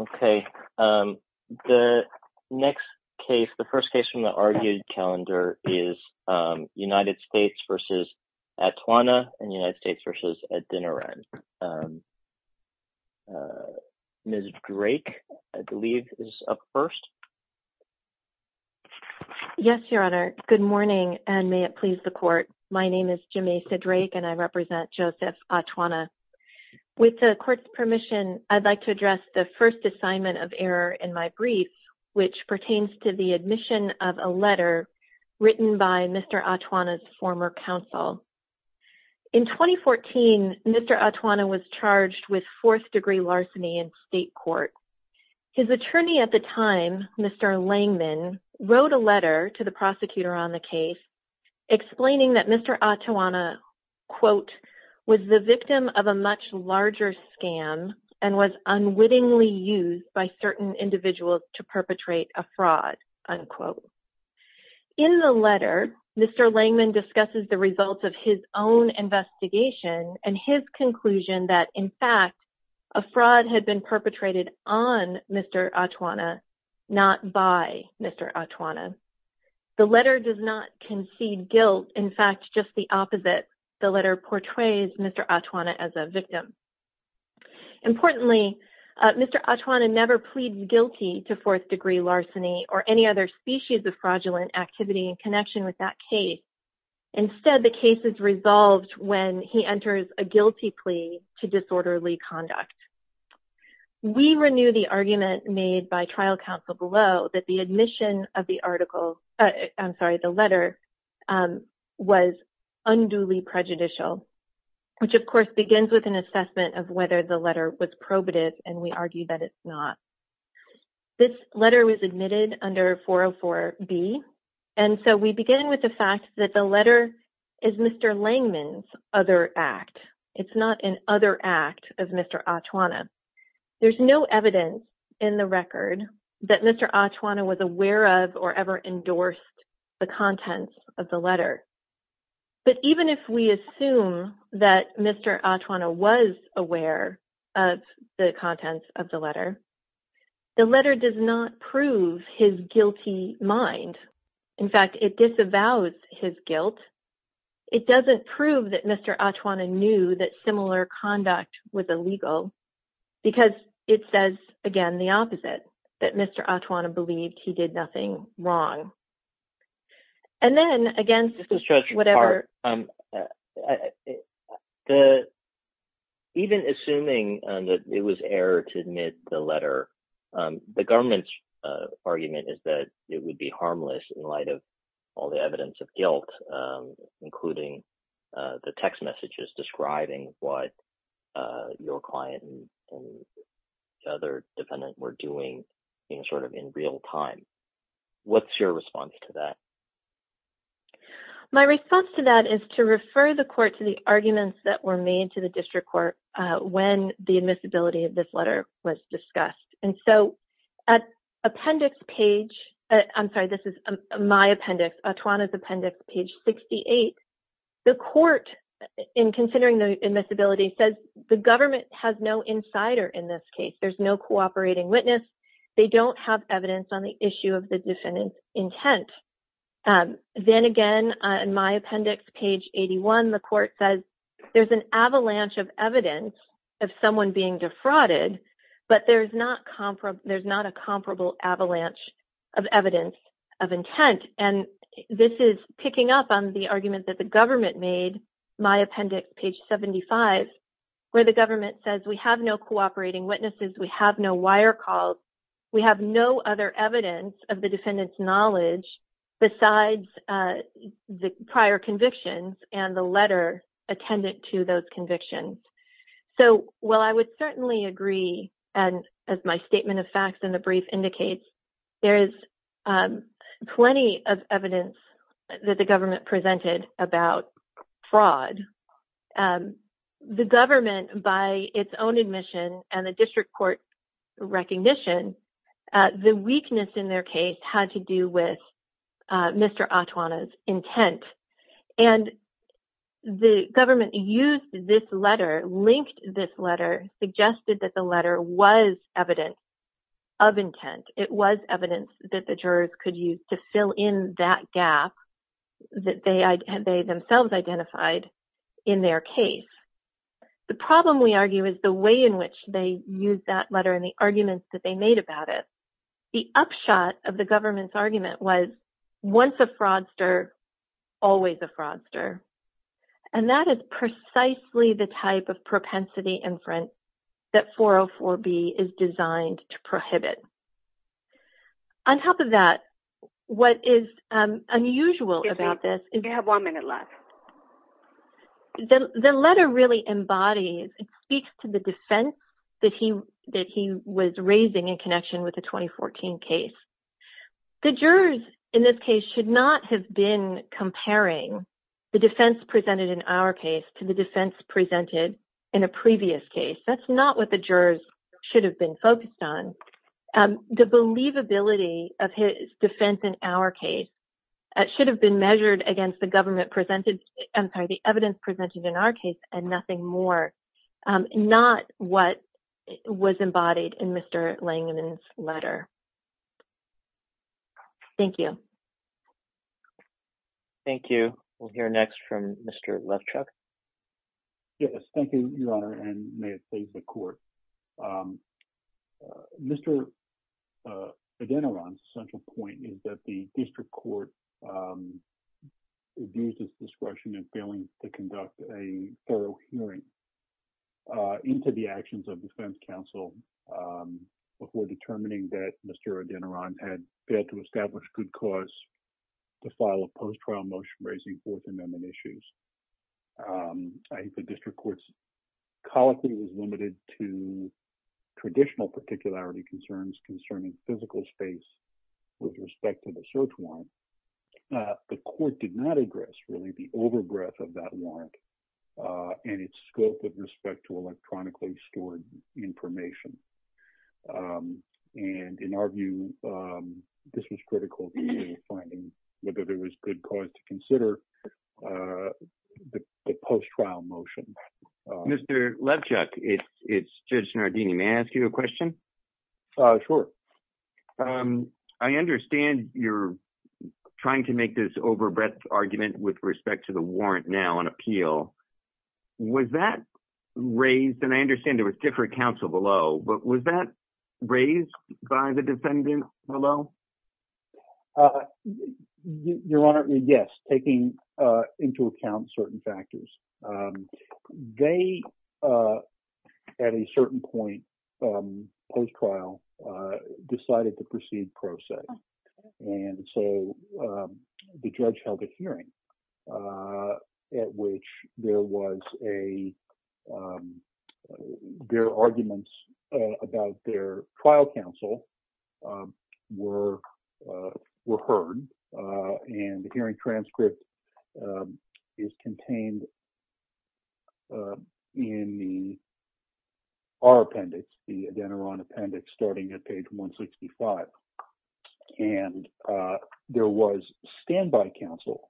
Okay, the next case, the first case from the argued calendar, is United States v. Atuana and United States v. Adinaran. Ms. Drake, I believe, is up first. Yes, Your Honor. Good morning, and may it please the Court. My name is Jamesa Drake, and I represent Joseph Atuana. With the Court's permission, I'd like to address the first assignment of error in my brief, which pertains to the admission of a letter written by Mr. Atuana's former counsel. In 2014, Mr. Atuana was charged with fourth-degree larceny in state court. His attorney at the time, Mr. Langman, wrote a letter to the prosecutor on the case explaining that Mr. Atuana, quote, was the victim of a much larger scam and was unwittingly used by certain individuals to perpetrate a fraud, unquote. In the letter, Mr. Langman discusses the results of his own investigation and his conclusion that, in fact, a fraud had been guilt, in fact, just the opposite. The letter portrays Mr. Atuana as a victim. Importantly, Mr. Atuana never pleads guilty to fourth-degree larceny or any other species of fraudulent activity in connection with that case. Instead, the case is resolved when he enters a guilty plea to disorderly conduct. We renew the argument made by trial counsel below that the admission of the letter was unduly prejudicial, which, of course, begins with an assessment of whether the letter was probative, and we argue that it's not. This letter was admitted under 404B, and so we begin with the fact that the letter is Mr. Langman's other act. It's not an other act of Mr. Atuana. There's no evidence in the record that Mr. Atuana was aware of or ever endorsed the contents of the letter. But even if we assume that Mr. Atuana was aware of the contents of the letter, the letter does not prove his guilty mind. In fact, it disavows his guilt. It doesn't prove that Mr. Atuana knew that similar conduct was illegal because it says, again, the opposite. Mr. Atuana believed he did nothing wrong. And then, again, this is just whatever... Even assuming that it was error to admit the letter, the government's argument is that it would be harmless in light of all the evidence of guilt, including the text messages describing what your client and the other defendant were doing in real time. What's your response to that? My response to that is to refer the court to the arguments that were made to the district court when the admissibility of this letter was discussed. And so at appendix page... I'm sorry, this is my appendix, Atuana's appendix, page 68, the court, in considering the admissibility, says the government has no insider in this case. There's no cooperating witness. They don't have evidence on the issue of the defendant's intent. Then again, in my appendix, page 81, the court says there's an avalanche of evidence of someone being defrauded, but there's not a comparable avalanche of evidence of intent. And this is picking up on the argument that the government made, my appendix, page 75, where the government says we have no cooperating witnesses. We have no wire calls. We have no other evidence of the defendant's knowledge besides the prior convictions and the letter attendant to those convictions. So while I would certainly agree, and as my statement of facts in the brief indicates, there is plenty of evidence that the government presented about fraud. The government, by its own admission and the district court recognition, the weakness in their case had to do with Mr. Atuana's intent. And the government used this letter, linked this evidence that the jurors could use to fill in that gap that they themselves identified in their case. The problem, we argue, is the way in which they used that letter and the arguments that they made about it. The upshot of the government's argument was once a fraudster, always a fraudster. And that is precisely the type of propensity inference that 404B is designed to prohibit. On top of that, what is unusual about this is that the letter really embodies and speaks to the defense that he was raising in connection with the 2014 case. The jurors in this case should not have been comparing the defense presented in our case to the defense presented in a previous case. That's not what the jurors should have been focused on. The believability of his defense in our case should have been measured against the government presented, I'm sorry, the evidence presented in our case and nothing more. Not what was embodied in Mr. Langevin's letter. Thank you. Thank you. We'll hear next from Mr. Levchuk. Yes, thank you, Your Honor, and may it please the court. Mr. Adeneron's central point is that the district court abused its discretion in failing to conduct a thorough hearing into the actions of defense counsel before determining that Mr. Adeneron had failed to establish good cause to file a post-trial motion raising Fourth Amendment issues. I think the district court's policy was limited to traditional particularity concerns concerning physical space with respect to the search warrant. The court did not address, really, the over-breath of that warrant and its scope with respect to electronically stored information. And in our view, this was critical to finding whether there was good cause to consider the post-trial motion. Mr. Levchuk, it's Judge Nardini. May I ask you a question? Sure. I understand you're trying to make this over-breath argument with respect to the warrant now on appeal. Was that raised, and I understand there was different counsel below, but was that raised by the defendants below? Your Honor, yes, taking into account certain factors. They, at a certain point post-trial, decided to proceed pro se, and so the judge held a hearing. At which there was a, their arguments about their trial counsel were heard, and the hearing transcript is contained in the, our appendix, the Adeneron appendix, starting at page 165. And there was standby counsel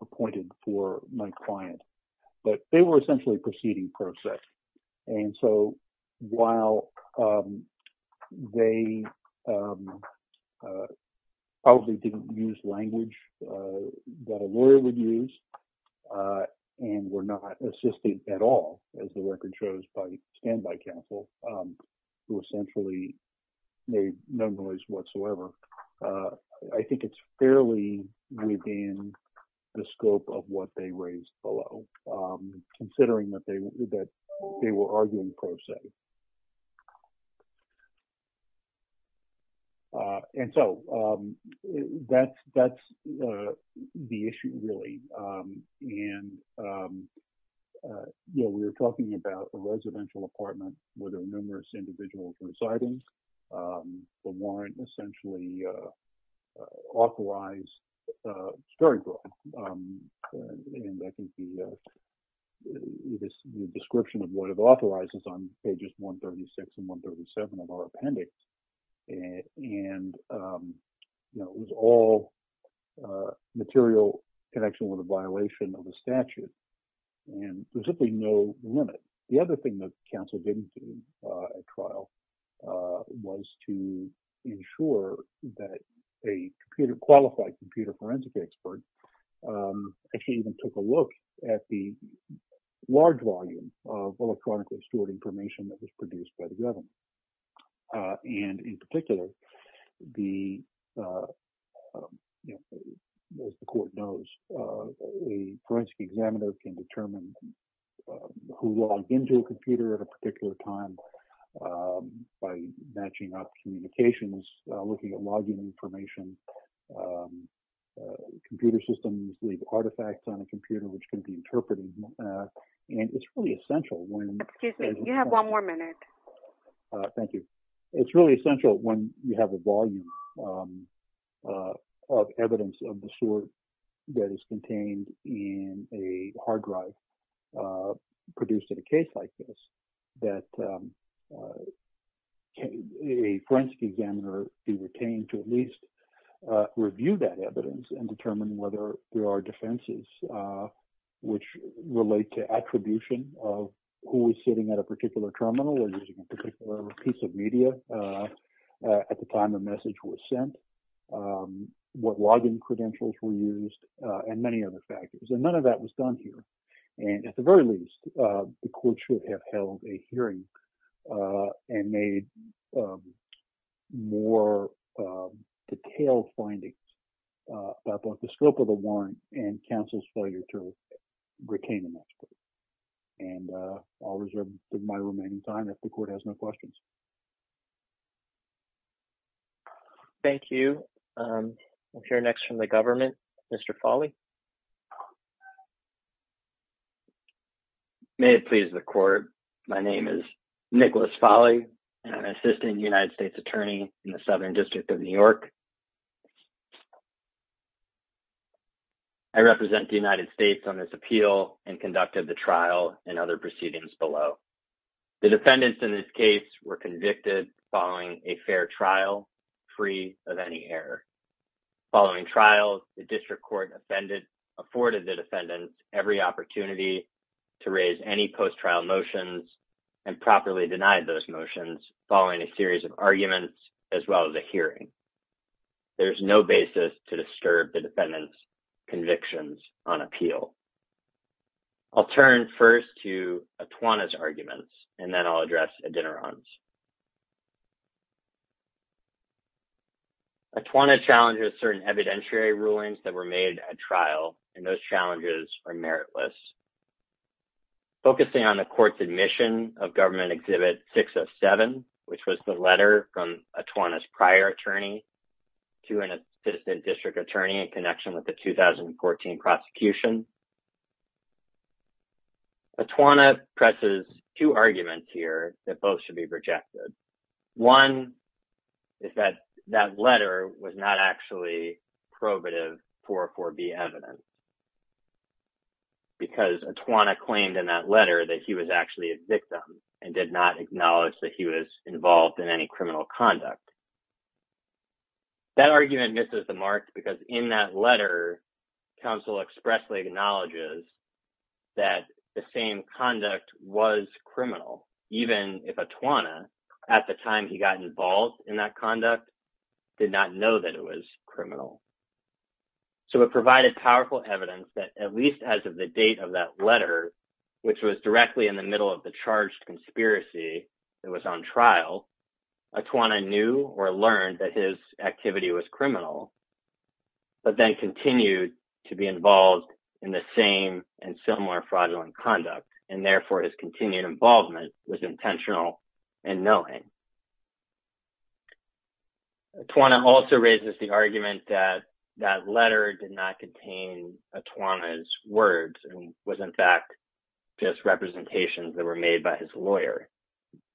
appointed for my client, but they were essentially proceeding pro se. And so while they probably didn't use language that a lawyer would use, and were not assisted at all, as the record shows, by standby counsel, who essentially made no noise whatsoever, I think it's fairly within the scope of what they raised below, considering that they were arguing pro se. And so that's the issue really, and we were talking about a residential apartment with numerous individuals residing. The warrant essentially authorized, it's very broad, and I think the description of what it authorizes on pages 136 and 137 of our appendix, and it was all material connection with a violation of the statute, and there's simply no limit. The other thing that counsel didn't do at trial was to ensure that a computer, qualified computer forensic expert, actually even took a look at the large volume of electronically stored information that was produced by the government. And in particular, the, as the court knows, a forensic examiner can determine who logged into a computer at a particular time by matching up communications, looking at logging information, computer systems leave artifacts on a computer which can be interpreted, and it's really essential when- Excuse me, you have one more minute. Thank you. It's really essential when you have a volume of evidence of the sort that is contained in a hard drive produced in a case like this, that a forensic examiner be retained to at least review that evidence and determine whether there are defenses which relate to attribution of who at a particular terminal or using a particular piece of media at the time the message was sent, what logging credentials were used, and many other factors. And none of that was done here. And at the very least, the court should have held a hearing and made more detailed findings about both the scope of the warrant and counsel's failure to retain the master. And I'll reserve my remaining time if the court has no questions. Thank you. We'll hear next from the government. Mr. Folley. May it please the court, my name is Nicholas Folley, and I'm an assistant United States attorney in the Southern District of New York. I represent the United States on this appeal and conducted the trial and other proceedings below. The defendants in this case were convicted following a fair trial, free of any error. Following trial, the district court afforded the defendants every opportunity to raise any post-trial motions and properly denied those motions following a series of arguments, as well as a hearing. There's no basis to disturb the defendants' convictions on appeal. I'll turn first to Atwana's arguments, and then I'll address Adinoron's. Atwana challenges certain evidentiary rulings that were made at trial, and those challenges are meritless. Focusing on the court's admission of Government Exhibit 607, which was the letter from Atwana's prior attorney to an assistant district attorney in connection with the 2014 prosecution, Atwana presses two arguments here that both should be rejected. One is that that letter was not actually probative 404B evidence, because Atwana claimed in that letter that he was actually a victim and did not acknowledge that he was involved in any criminal conduct. That argument misses the mark, because in that letter, counsel expressly acknowledges that the same conduct was criminal, even if Atwana, at the time he got involved in that conduct, did not know that it was criminal. So, it provided powerful evidence that, at least as of the date of that letter, which was directly in the middle of the charged conspiracy that was on trial, Atwana knew or learned that his activity was criminal, but then continued to be involved in the same and similar fraudulent conduct, and therefore, Atwana also raises the argument that that letter did not contain Atwana's words and was, in fact, just representations that were made by his lawyer.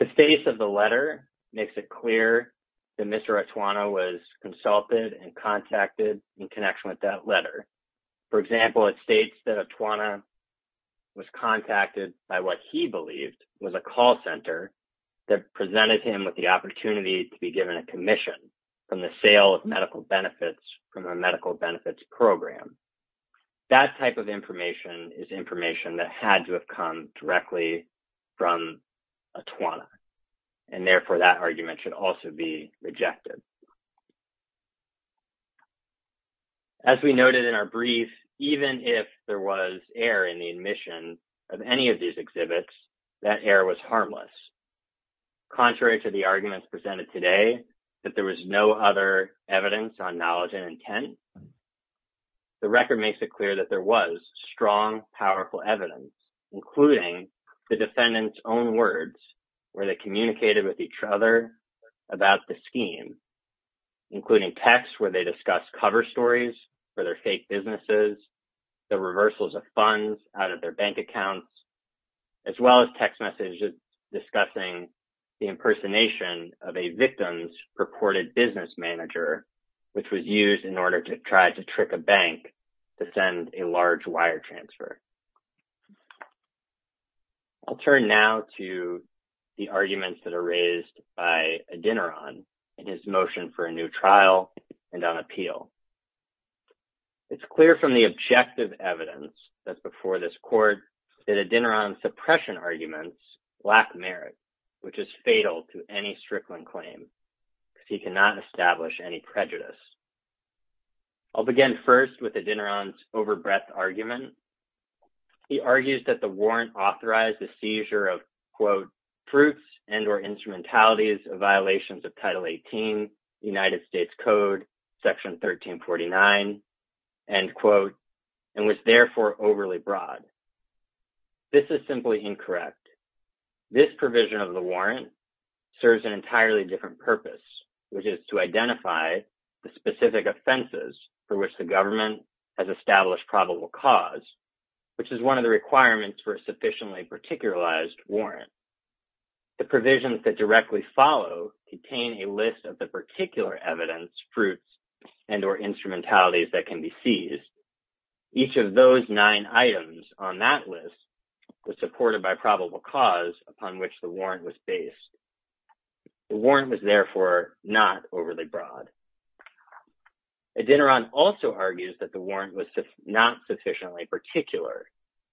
The face of the letter makes it clear that Mr. Atwana was consulted and contacted in connection with that letter. For example, it states that Atwana was contacted by what he believed was a call center that presented him with the opportunity to be given a commission from the sale of medical benefits from a medical benefits program. That type of information is information that had to have come directly from Atwana, and therefore, that argument should also be rejected. As we noted in our brief, even if there was error in the admission of any of these exhibits, that error was harmless. Contrary to the arguments presented today, that there was no other evidence on knowledge and intent, the record makes it clear that there was strong, powerful evidence, including the defendant's own words where they communicated with each other about the scheme, including texts where they discussed cover stories for their fake businesses, the reversals of funds out of their bank accounts, as well as text messages discussing the impersonation of a victim's purported business manager, which was used in order to try to trick a bank to send a large wire transfer. I'll turn now to the arguments that are raised by Adineron in his motion for a new trial and appeal. It's clear from the objective evidence that's before this court that Adineron's suppression arguments lack merit, which is fatal to any Strickland claim, because he cannot establish any prejudice. I'll begin first with Adineron's overbreadth argument. He argues that the warrant authorized the seizure of, quote, fruits and or instrumentalities of violations of Title 18, United States Code, Section 1349, end quote, and was therefore overly broad. This is simply incorrect. This provision of the warrant serves an entirely different purpose, which is to identify the specific offenses for which the government has established probable cause, which is one of the requirements for a sufficiently particularized warrant. The provisions that directly follow contain a list of the particular evidence, fruits, and or instrumentalities that can be seized. Each of those nine items on that list was supported by probable cause upon which the warrant was based. The warrant was therefore not overly broad. Adineron also argues that the warrant was not sufficiently particular.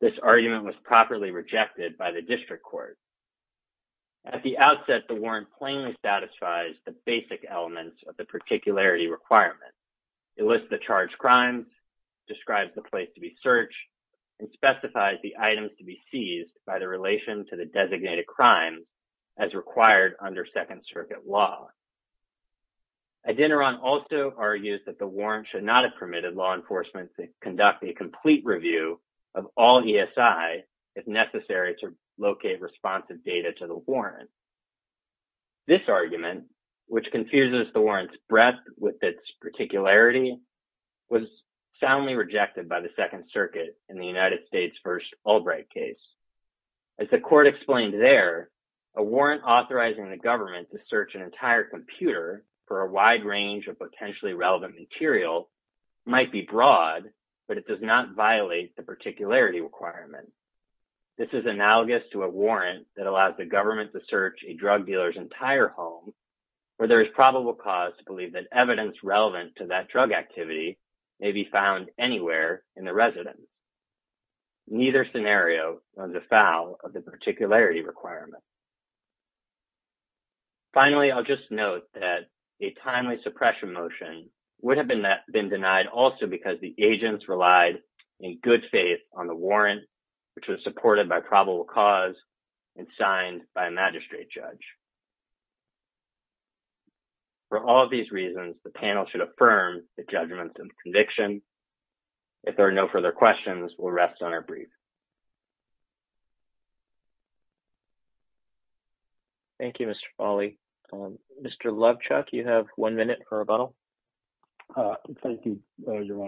This argument was properly rejected by the district court. At the outset, the warrant plainly satisfies the basic elements of the particularity requirement. It lists the charged crimes, describes the place to be searched, and specifies the items to be seized by the relation to the designated crimes as required under Second Circuit law. Adineron also argues that the warrant should not have if necessary to locate responsive data to the warrant. This argument, which confuses the warrant's breadth with its particularity, was soundly rejected by the Second Circuit in the United States v. Albright case. As the court explained there, a warrant authorizing the government to search an entire computer for a wide range of potentially relevant material might be broad, but it does not violate the particularity requirement. This is analogous to a warrant that allows the government to search a drug dealer's entire home where there is probable cause to believe that evidence relevant to that drug activity may be found anywhere in the residence. Neither scenario is a foul of the particularity requirement. Finally, I'll just note that a timely suppression motion would have been denied also because the agents relied in good faith on the warrant, which was supported by probable cause and signed by a magistrate judge. For all of these reasons, the panel should affirm the judgment and conviction. If there are no further questions, we'll rest on our brief. Thank you, Mr. Fawley. Mr. Lovechuck, you have one minute for a rebuttal. Thank you, Your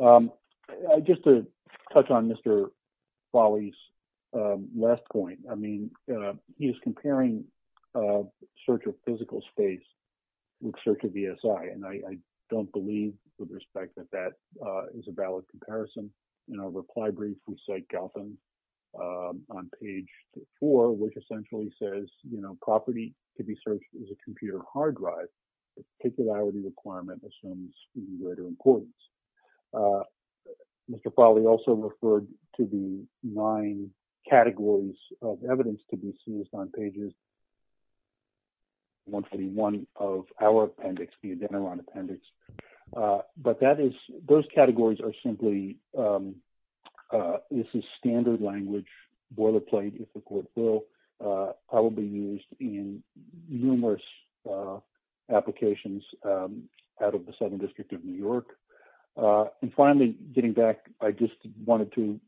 Honor. Just to touch on Mr. Fawley's last point, I mean, he is comparing search of physical space with search of ESI, and I don't believe with respect that that is a valid comparison. In our reply brief, we cite Galpin on page four, which essentially says, you know, property to be searched is a computer hard drive. The particularity requirement assumes greater importance. Mr. Fawley also referred to the nine categories of evidence to be seen on pages 121 of our appendix, the Adeneron appendix. But that is, those categories are simply, this is standard language boilerplate, if the court will, probably used in numerous applications out of the Southern District of New York. And finally, getting back, I just wanted to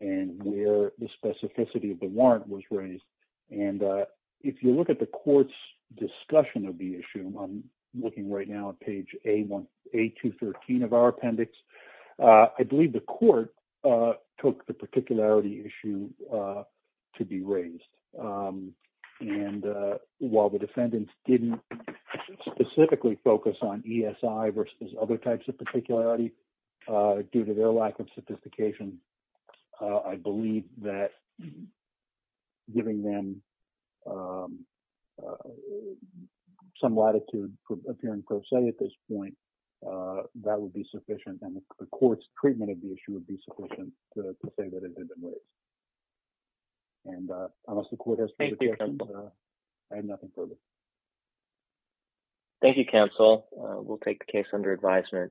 emphasize the specificity of the warrant was raised. And if you look at the court's discussion of the issue, I'm looking right now at page A213 of our appendix, I believe the court took the particularity issue to be raised. And while the defendants didn't specifically focus on ESI versus other types of particularity due to their lack of sophistication, I believe that giving them some latitude for appearing pro se at this point, that would be sufficient. And the court's treatment of the issue would be sufficient to say that it didn't raise. And unless the court has further questions, I have nothing further. Thank you, counsel. We'll take the case under advisement.